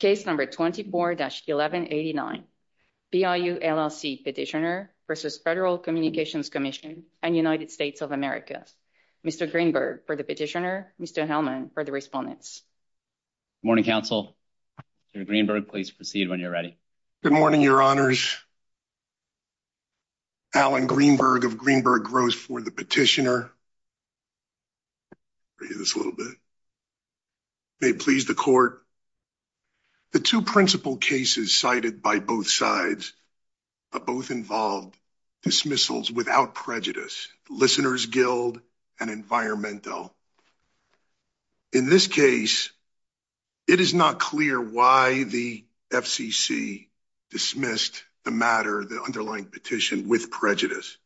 Case number 24-1189, BIU, LLC petitioner versus Federal Communications Commission and United States of America. Mr. Greenberg for the petitioner, Mr. Hellman for the respondents. Good morning, counsel. Mr. Greenberg, please proceed when you're ready. Good morning, your honors. Alan Greenberg of Greenberg Gross for the petitioner. May it please the court, the two principal cases cited by both sides, both involved dismissals without prejudice, Listener's Guild and Environmental. In this case, it is not clear why the FCC dismissed the matter, the underlying petition with prejudice.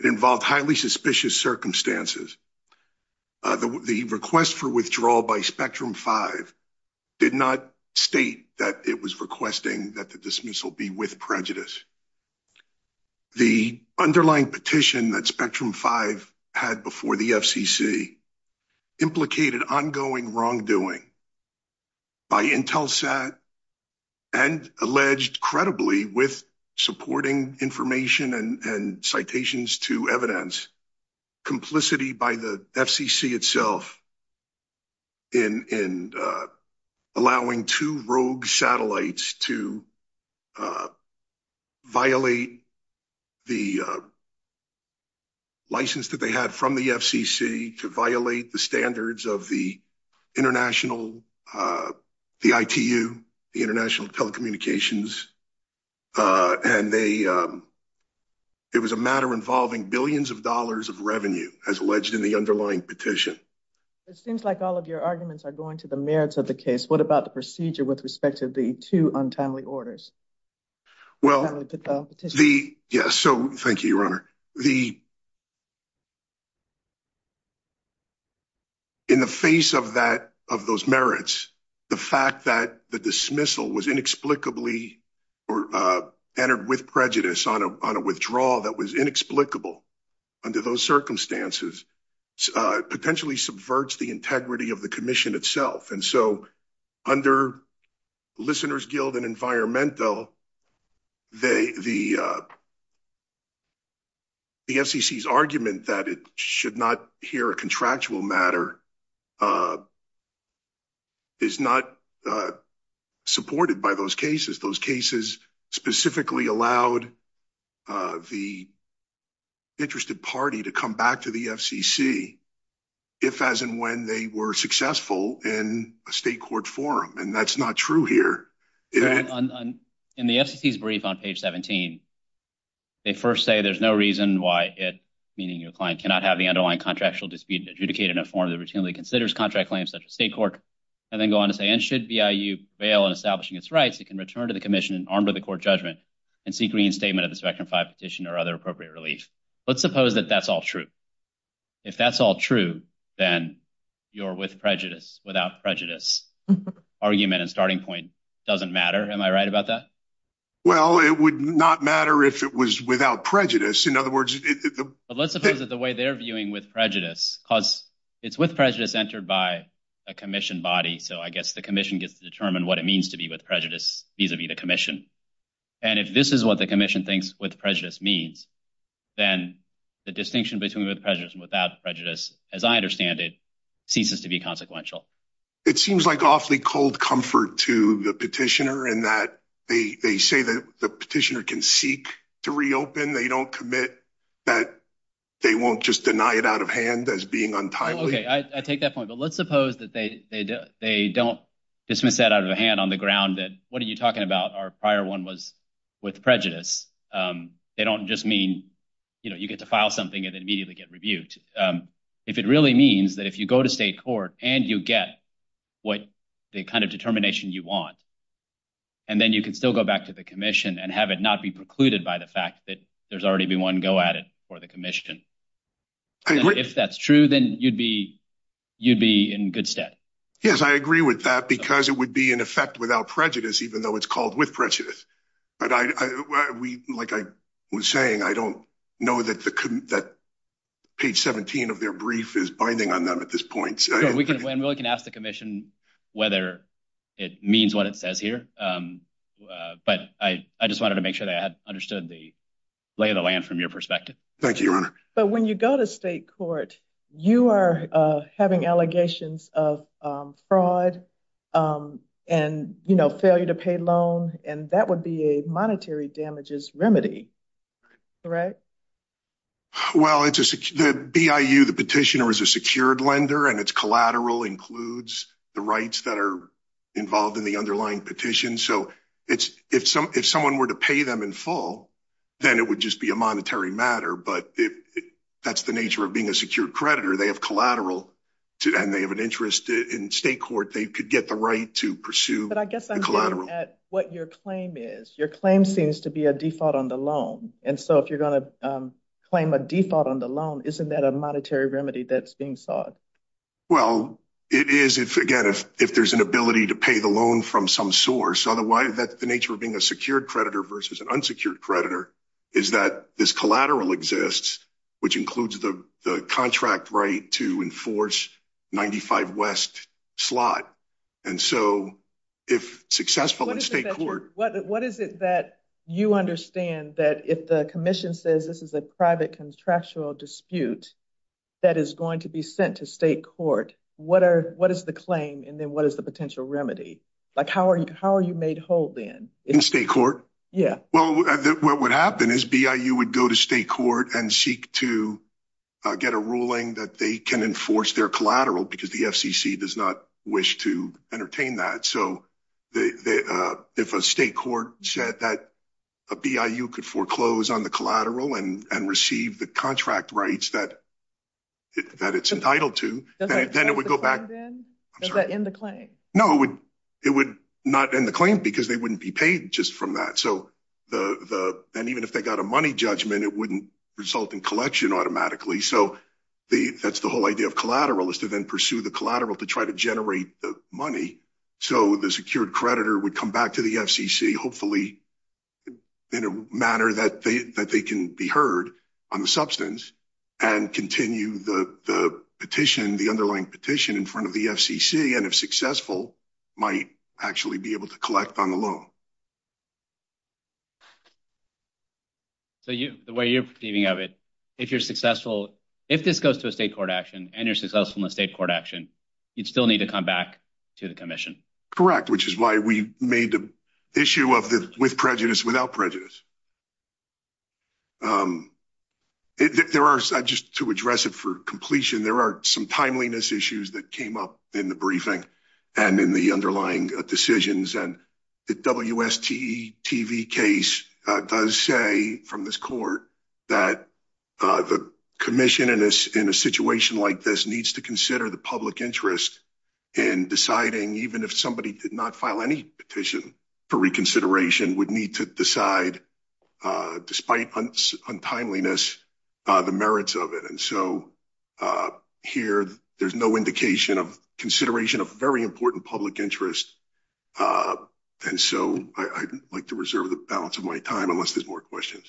It involved highly suspicious circumstances. The request for withdrawal by Spectrum 5 did not state that it was requesting that the dismissal be with prejudice. The underlying petition that Spectrum 5 had before the FCC implicated ongoing wrongdoing by Intelsat and alleged credibly with supporting information and citations to evidence complicity by the FCC itself in allowing two rogue satellites to violate the license that they had from the FCC to violate the standards of the international, the ITU, the international telecommunications. And they it was a matter involving billions of dollars of revenue as alleged in the underlying petition. It seems like all of your arguments are going to the merits of the case. What about the procedure with respect to the two untimely orders? Well, the yes. So thank you, your honor. The in the face of that, of those merits, the fact that the dismissal was inexplicably or entered with prejudice on a withdrawal that was inexplicable under those circumstances potentially subverts the integrity of the commission itself. And so under Listener's Guild and Environmental, the FCC's argument that it should not hear a contractual matter is not supported by those cases. Those cases specifically allowed the interested party to come back to the FCC if as and when they were successful in a state court forum. And that's not true here. In the FCC's brief on page 17, they first say there's no reason why it, meaning your client, cannot have the underlying contractual dispute adjudicated in a form that routinely considers contract claims such as state court, and then go on to say, and should BIU bail in establishing its rights, it can return to the commission armed with a court judgment and see green statement of the spectrum five petition or other appropriate relief. Let's suppose that that's all true. If that's all true, then your with prejudice, without prejudice argument and starting point doesn't matter. Am I right about that? Well, it would not matter if it was without prejudice. In other words, let's suppose that the way they're viewing with prejudice, because it's with prejudice entered by a commission body. So I guess the commission gets to determine what it means to be with prejudice vis-a-vis the commission. And if this is what the commission thinks with prejudice means, then the distinction between with prejudice and without prejudice, as I understand it, ceases to be consequential. It seems like awfully cold comfort to the petitioner in that they say that the petitioner can seek to reopen. They don't commit that they won't just deny it out of hand as being untimely. Okay, I take that point, but let's suppose that they don't dismiss that out of the hand on the ground that what are you talking about? Our prior one was with prejudice. They don't just mean, you know, you get to file something and immediately get rebuked. If it really means that if you go to state court and you get what the kind of determination you want, and then you can still go back to the commission and have it not be precluded by the fact that there's already been one go at it for the commission. If that's true, then you'd be you'd be in good stead. Yes, I agree with that, because it would be in effect without prejudice, even though it's called with prejudice. But I, we like I was saying, I don't know that that page 17 of their brief is binding on them at this point. So we can we can ask the commission whether it means what it says here. But I just wanted to make sure that I had understood the lay of the land from your perspective. Thank you, Your Honor. But when you go to state court, you are having allegations of fraud and, you know, failure to pay loan. And that would be a monetary damages remedy. Well, it's a BIU, the petitioner is a secured lender, and it's collateral includes the rights that are involved in the underlying petition. So it's if some if someone were to pay them in full, then it would just be a monetary matter. But if that's the nature of being a secured creditor, they have collateral to and they have an interest in state court, they could get the right to pursue. But I guess I'm looking at what your claim is. Your claim seems to be a default on the loan. And so if you're going to claim a default on the loan, isn't that a monetary remedy that's being sought? Well, it is if again, if if there's an ability to pay the loan from some source, otherwise that the nature of being a secured creditor versus an unsecured creditor is that this collateral exists, which includes the contract right to enforce 95 West slot. And so if successful in state court, what is it that you understand that if the commission says this is a private contractual dispute, that is going to be sent to state court? What are what is the claim? And then what is the potential remedy? Like how are you? How are you made whole then? In state court? Yeah, well, what would happen is BIU would go to state court and seek to get a ruling that they can enforce their collateral because the FCC does not wish to entertain that. So the if a state court said that a BIU could foreclose on the collateral and receive the contract rights that that it's entitled to, then it would go back in the claim. No, it would not in the claim because they wouldn't be paid just from that. So the and even if they got a money judgment, it wouldn't result in collection automatically. So that's the whole idea of collateral is to then pursue the collateral to try to generate the money. So the secured creditor would come back to the FCC, hopefully in a manner that they that they can be heard on the substance and continue the petition, the underlying petition in front of the FCC. And if successful, might actually be able to collect on the loan. So you the way you're thinking of it, if you're successful, if this goes to a state court action and you're successful in a state court action, you'd still need to come back to the commission. Which is why we made the issue of the with prejudice, without prejudice. There are just to address it for completion. There are some timeliness issues that came up in the briefing and in the underlying decisions. And the WST TV case does say from this court that the commission in this in a situation like this needs to consider the public interest in deciding even if somebody did not file any petition for reconsideration would need to decide, despite untimeliness, the merits of it. And so here, there's no indication of consideration of very important public interest. And so I'd like to reserve the balance of my time unless there's more questions.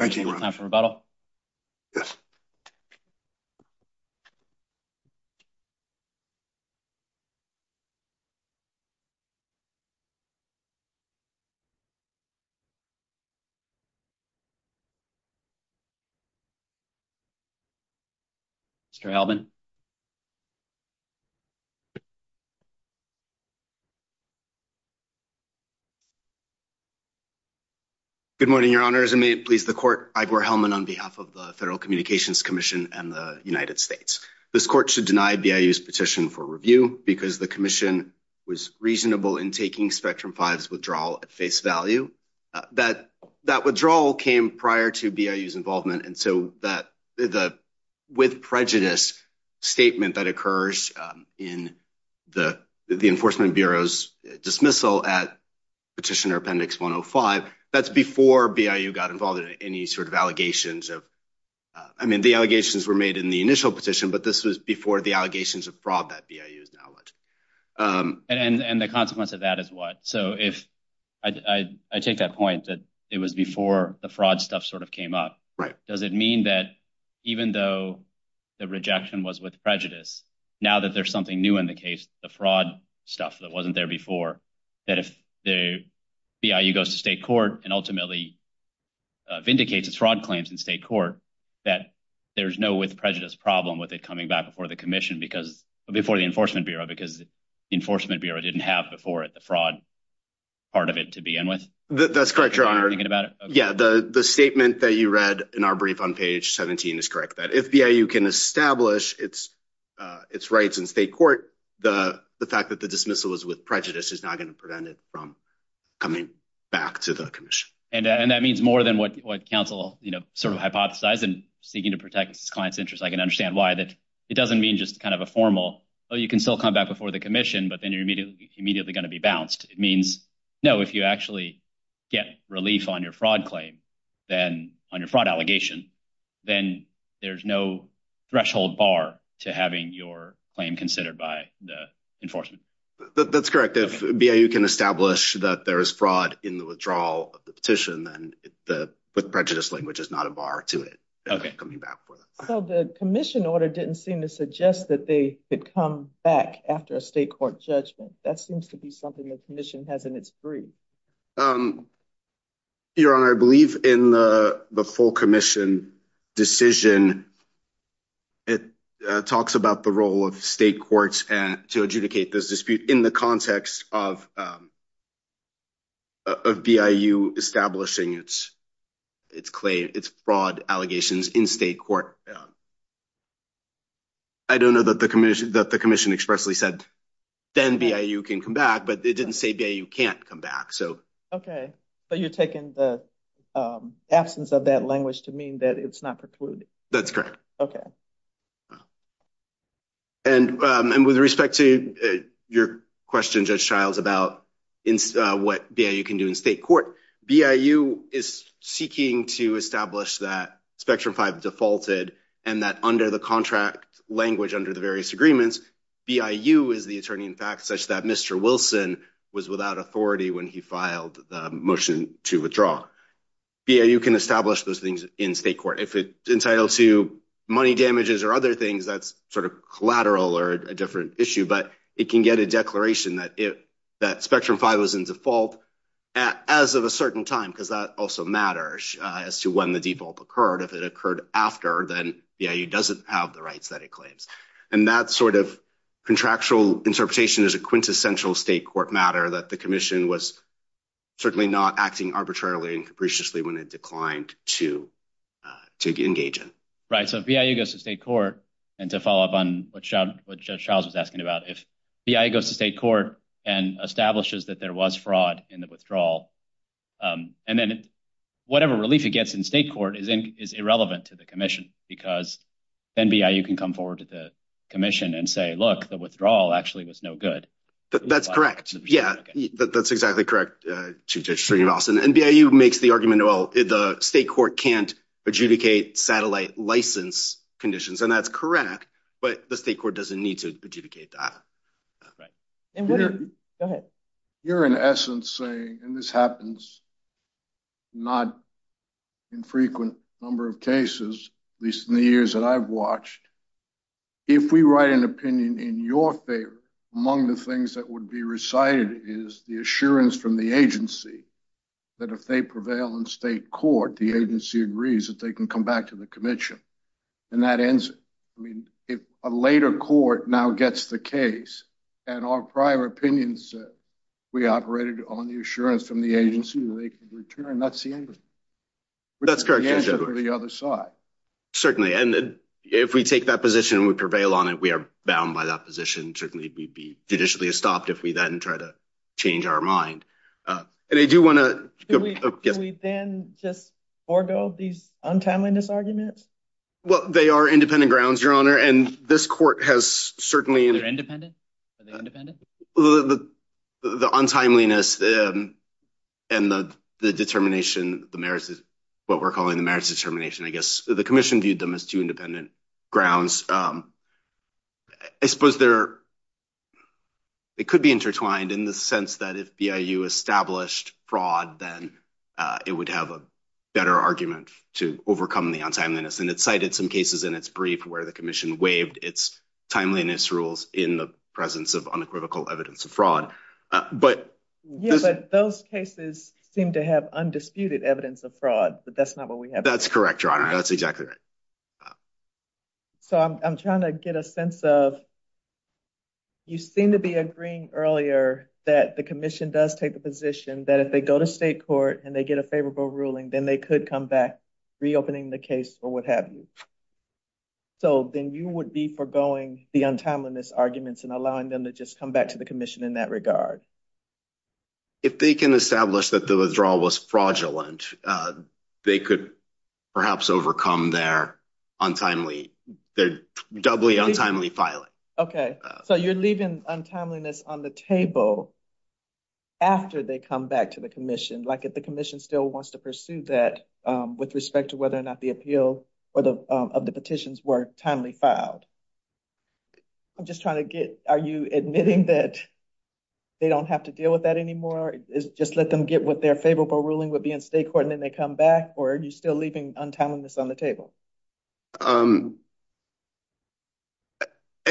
Thank you. After rebuttal. Transcribed by https://otter.ai Good morning, your honors, and may it please the court, Ivor Hellman on behalf of the Federal Communications Commission and the United States. This court should deny BIU's petition for review because the commission was reasonable in taking spectrum fives withdrawal at face value that that withdrawal came prior to BIU's involvement. And so that the with prejudice statement that occurs in the Enforcement Bureau's dismissal at Petitioner Appendix 105, that's before BIU got involved in any sort of allegations of I mean, the allegations were made in the initial petition, but this was before the allegations of fraud that BIU is now alleged. And the consequence of that is what? So if I take that point that it was before the fraud stuff sort of came up, does it mean that even though the rejection was with prejudice, now that there's something new in the case, the fraud stuff that wasn't there before, that if the BIU goes to state court and ultimately vindicates its fraud claims in state court, that there's no with prejudice problem with it coming back before the commission because before the Enforcement Bureau, because Enforcement Bureau didn't have before it the fraud part of it to begin with? That's correct. You're thinking about it. Yeah. The statement that you read in our brief on page 17 is correct that if BIU can establish its its rights in state court, the the fact that the dismissal is with prejudice is not going to prevent it from coming back to the commission. And that means more than what what counsel, you know, sort of hypothesize and seeking to protect its client's interests. I can understand why that it doesn't mean just kind of a formal, oh, you can still come back before the commission, but then you're immediately going to be bounced. It means, no, if you actually get relief on your fraud claim, then on your fraud allegation, then there's no threshold bar to having your claim considered by the enforcement. That's correct. If you can establish that there is fraud in the withdrawal of the petition, then the prejudice language is not a bar to it coming back for the commission order didn't seem to suggest that they had come back after a state court judgment. That seems to be something the commission has in its brief. Your Honor, I believe in the full commission decision. It talks about the role of state courts to adjudicate this dispute in the context of of BIU establishing its its claim, its fraud allegations in state court. I don't know that the commission that the commission expressly said then BIU can come back, but it didn't say you can't come back. So OK, but you're taking the absence of that language to mean that it's not precluded. That's correct. OK. And and with respect to your question, Judge Childs, about what you can do in state court, BIU is seeking to establish that Spectrum 5 defaulted and that under the contract language under the various agreements, BIU is the attorney, in fact, such that Mr. Wilson was without authority when he filed the motion to withdraw. Yeah, you can establish those things in state court if it's entitled to money damages or other things. That's sort of collateral or a different issue, but it can get a declaration that it that Spectrum 5 was in default as of a certain time, because that also matters as to when the default occurred. If it occurred after then, yeah, you doesn't have the rights that it claims. And that sort of contractual interpretation is a quintessential state court matter that the commission was certainly not acting arbitrarily and capriciously when it declined to to engage in. Right. So BIU goes to state court. And to follow up on what Judge Childs was asking about, if BIU goes to state court and establishes that there was fraud in the withdrawal and then whatever relief it gets in state court is irrelevant to the commission because then BIU can come forward to the commission and say, look, the withdrawal actually was no good. That's correct. Yeah, that's exactly correct, Judge Stringer-Rawson, and BIU makes the argument, well, the state court can't adjudicate satellite license conditions. And that's correct. But the state court doesn't need to adjudicate that. Right. Go ahead. You're in essence saying, and this happens not infrequent number of cases, at least in the years that I've watched. If we write an opinion in your favor, among the things that would be recited is the assurance from the agency that if they prevail in state court, the agency agrees that they can come back to the commission. And that ends, I mean, if a later court now gets the case and our prior opinions, we operated on the assurance from the agency that they can return, that's the end of it. That's correct, Judge Edwards. The answer to the other side. Certainly. And if we take that position and we prevail on it, we are bound by that position. Certainly we'd be judicially estopped if we then try to change our mind. And I do want to- Do we then just forego these untimeliness arguments? Well, they are independent grounds, Your Honor. And this court has certainly- Are they independent? Are they independent? The untimeliness and the determination, what we're calling the merits determination, I guess. The commission viewed them as two independent grounds. I suppose it could be intertwined in the sense that if BIU established fraud, then it would have a better argument to overcome the untimeliness. And it cited some cases in its brief where the commission waived its timeliness rules in the presence of unequivocal evidence of fraud. But- Yeah, but those cases seem to have undisputed evidence of fraud, but that's not what we have here. That's correct, Your Honor. That's exactly right. So, I'm trying to get a sense of- You seem to be agreeing earlier that the commission does take the position that if they go to state court and they get a favorable ruling, then they could come back reopening the case or what have you. So, then you would be foregoing the untimeliness arguments and allowing them to just come back to the commission in that regard. If they can establish that the withdrawal was fraudulent, they could perhaps overcome their untimely- their doubly untimely filing. Okay. So, you're leaving untimeliness on the table after they come back to the commission, like if the commission still wants to pursue that with respect to whether or not the appeal of the petitions were timely filed. I'm just trying to get- are you admitting that they don't have to deal with that anymore? Just let them get what their favorable ruling would be in state court and then they come back? Or are you still leaving untimeliness on the table? I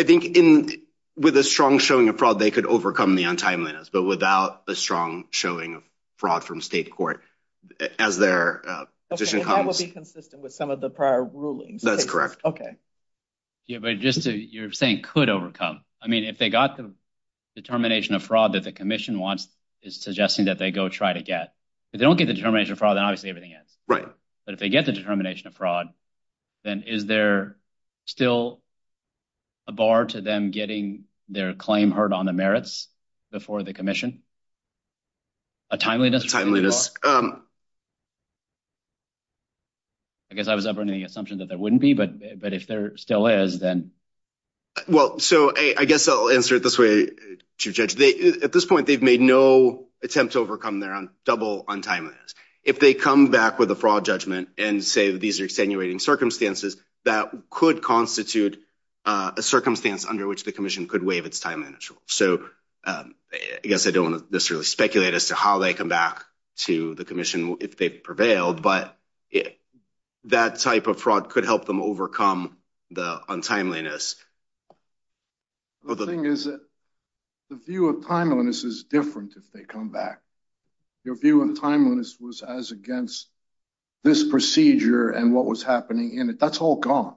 think with a strong showing of fraud, they could overcome the untimeliness, but without a strong showing of fraud from state court, as their petition- Okay, that would be consistent with some of the prior rulings. That's correct. Okay. Yeah, but just to- you're saying could overcome. I mean, if they got the determination of fraud that the commission wants, it's suggesting that they go try to get. If they don't get the determination of fraud, then obviously everything ends. Right. But if they get the determination of fraud, then is there still a bar to them getting their claim heard on the merits before the commission? A timeliness? A timeliness. I guess I was offering the assumption that there wouldn't be, but if there still is, then- Well, so I guess I'll answer it this way, Chief Judge. At this point, they've made no attempt to overcome their double untimeliness. If they come back with a fraud judgment and say that these are extenuating circumstances, that could constitute a circumstance under which the commission could waive its timeliness. So I guess I don't want to necessarily speculate as to how they come back to the commission if they've prevailed, but that type of fraud could help them overcome the untimeliness. The thing is that the view of timeliness is different if they come back. Your view of timeliness was as against this procedure and what was happening in it. That's all gone.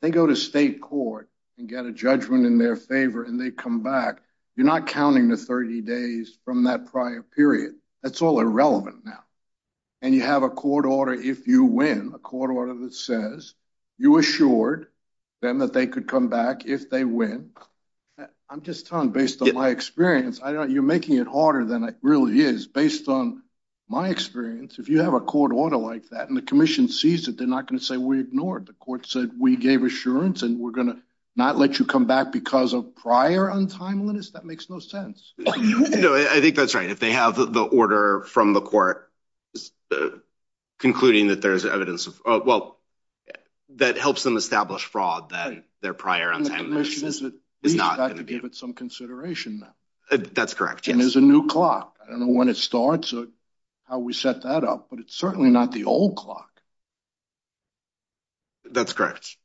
They go to state court and get a judgment in their favor and they come back. You're not counting the 30 days from that prior period. That's all irrelevant now. And you have a court order if you win, a court order that says you assured them that they could come back if they win. I'm just telling based on my experience, you're making it harder than it really is. Based on my experience, if you have a court order like that and the commission sees it, they're not going to say, we ignored. The court said, we gave assurance and we're going to not let you come back because of prior untimeliness. That makes no sense. No, I think that's right. If they have the order from the court concluding that there's evidence of, well, that helps them establish fraud, then their prior untimeliness is not going to be. The commission has to give it some consideration now. That's correct, yes. And there's a new clock. I don't know when it starts or how we set that up, but it's certainly not the old clock. That's correct.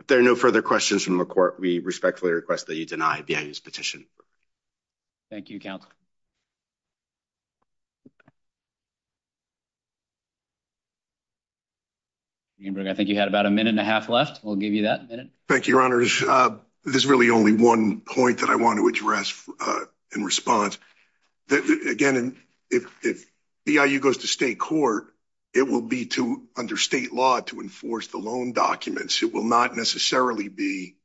If there are no further questions from the court, we respectfully request that you deny BIU's petition. Thank you, counsel. I think you had about a minute and a half left. We'll give you that minute. Thank you, your honors. There's really only one point that I want to address in response that, again, if BIU goes to state court, it will be under state law to enforce the loan documents. It will not necessarily be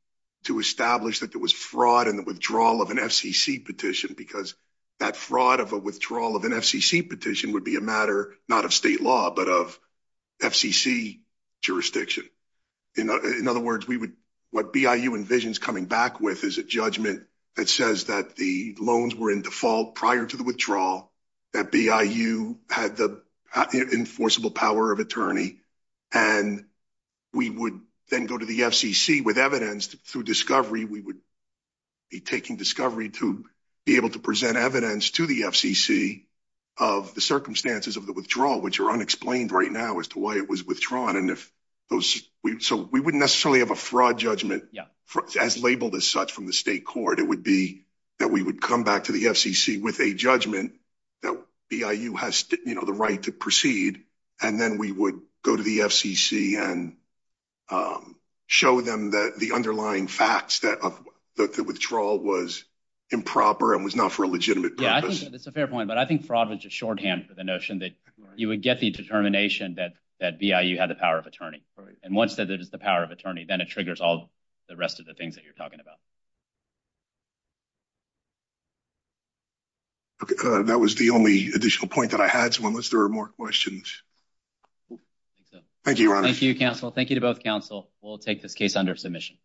to establish that there was fraud in the withdrawal of an FCC petition because that fraud of a withdrawal of an FCC petition would be a matter not of state law, but of FCC jurisdiction. In other words, what BIU envisions coming back with is a judgment that says that the loans were in default prior to the withdrawal, that BIU had the enforceable power of attorney, and we would then go to the FCC with evidence through discovery. We would be taking discovery to be able to present evidence to the FCC of the circumstances of the withdrawal, which are unexplained right now as to why it was withdrawn. So we wouldn't necessarily have a fraud judgment as labeled as such from the state court. It would be that we would come back to the FCC with a judgment that BIU has the right to proceed, and then we would go to the FCC and show them that the underlying facts that the withdrawal was improper and was not for a legitimate purpose. Yeah, that's a fair point. But I think fraud was just shorthand for the notion that you would get the determination that BIU had the power of attorney. And once that it is the power of attorney, then it triggers all the rest of the things that you're talking about. That was the only additional point that I had, so unless there are more questions. Thank you, Your Honor. Thank you, counsel. Thank you to both counsel. We'll take this case under submission.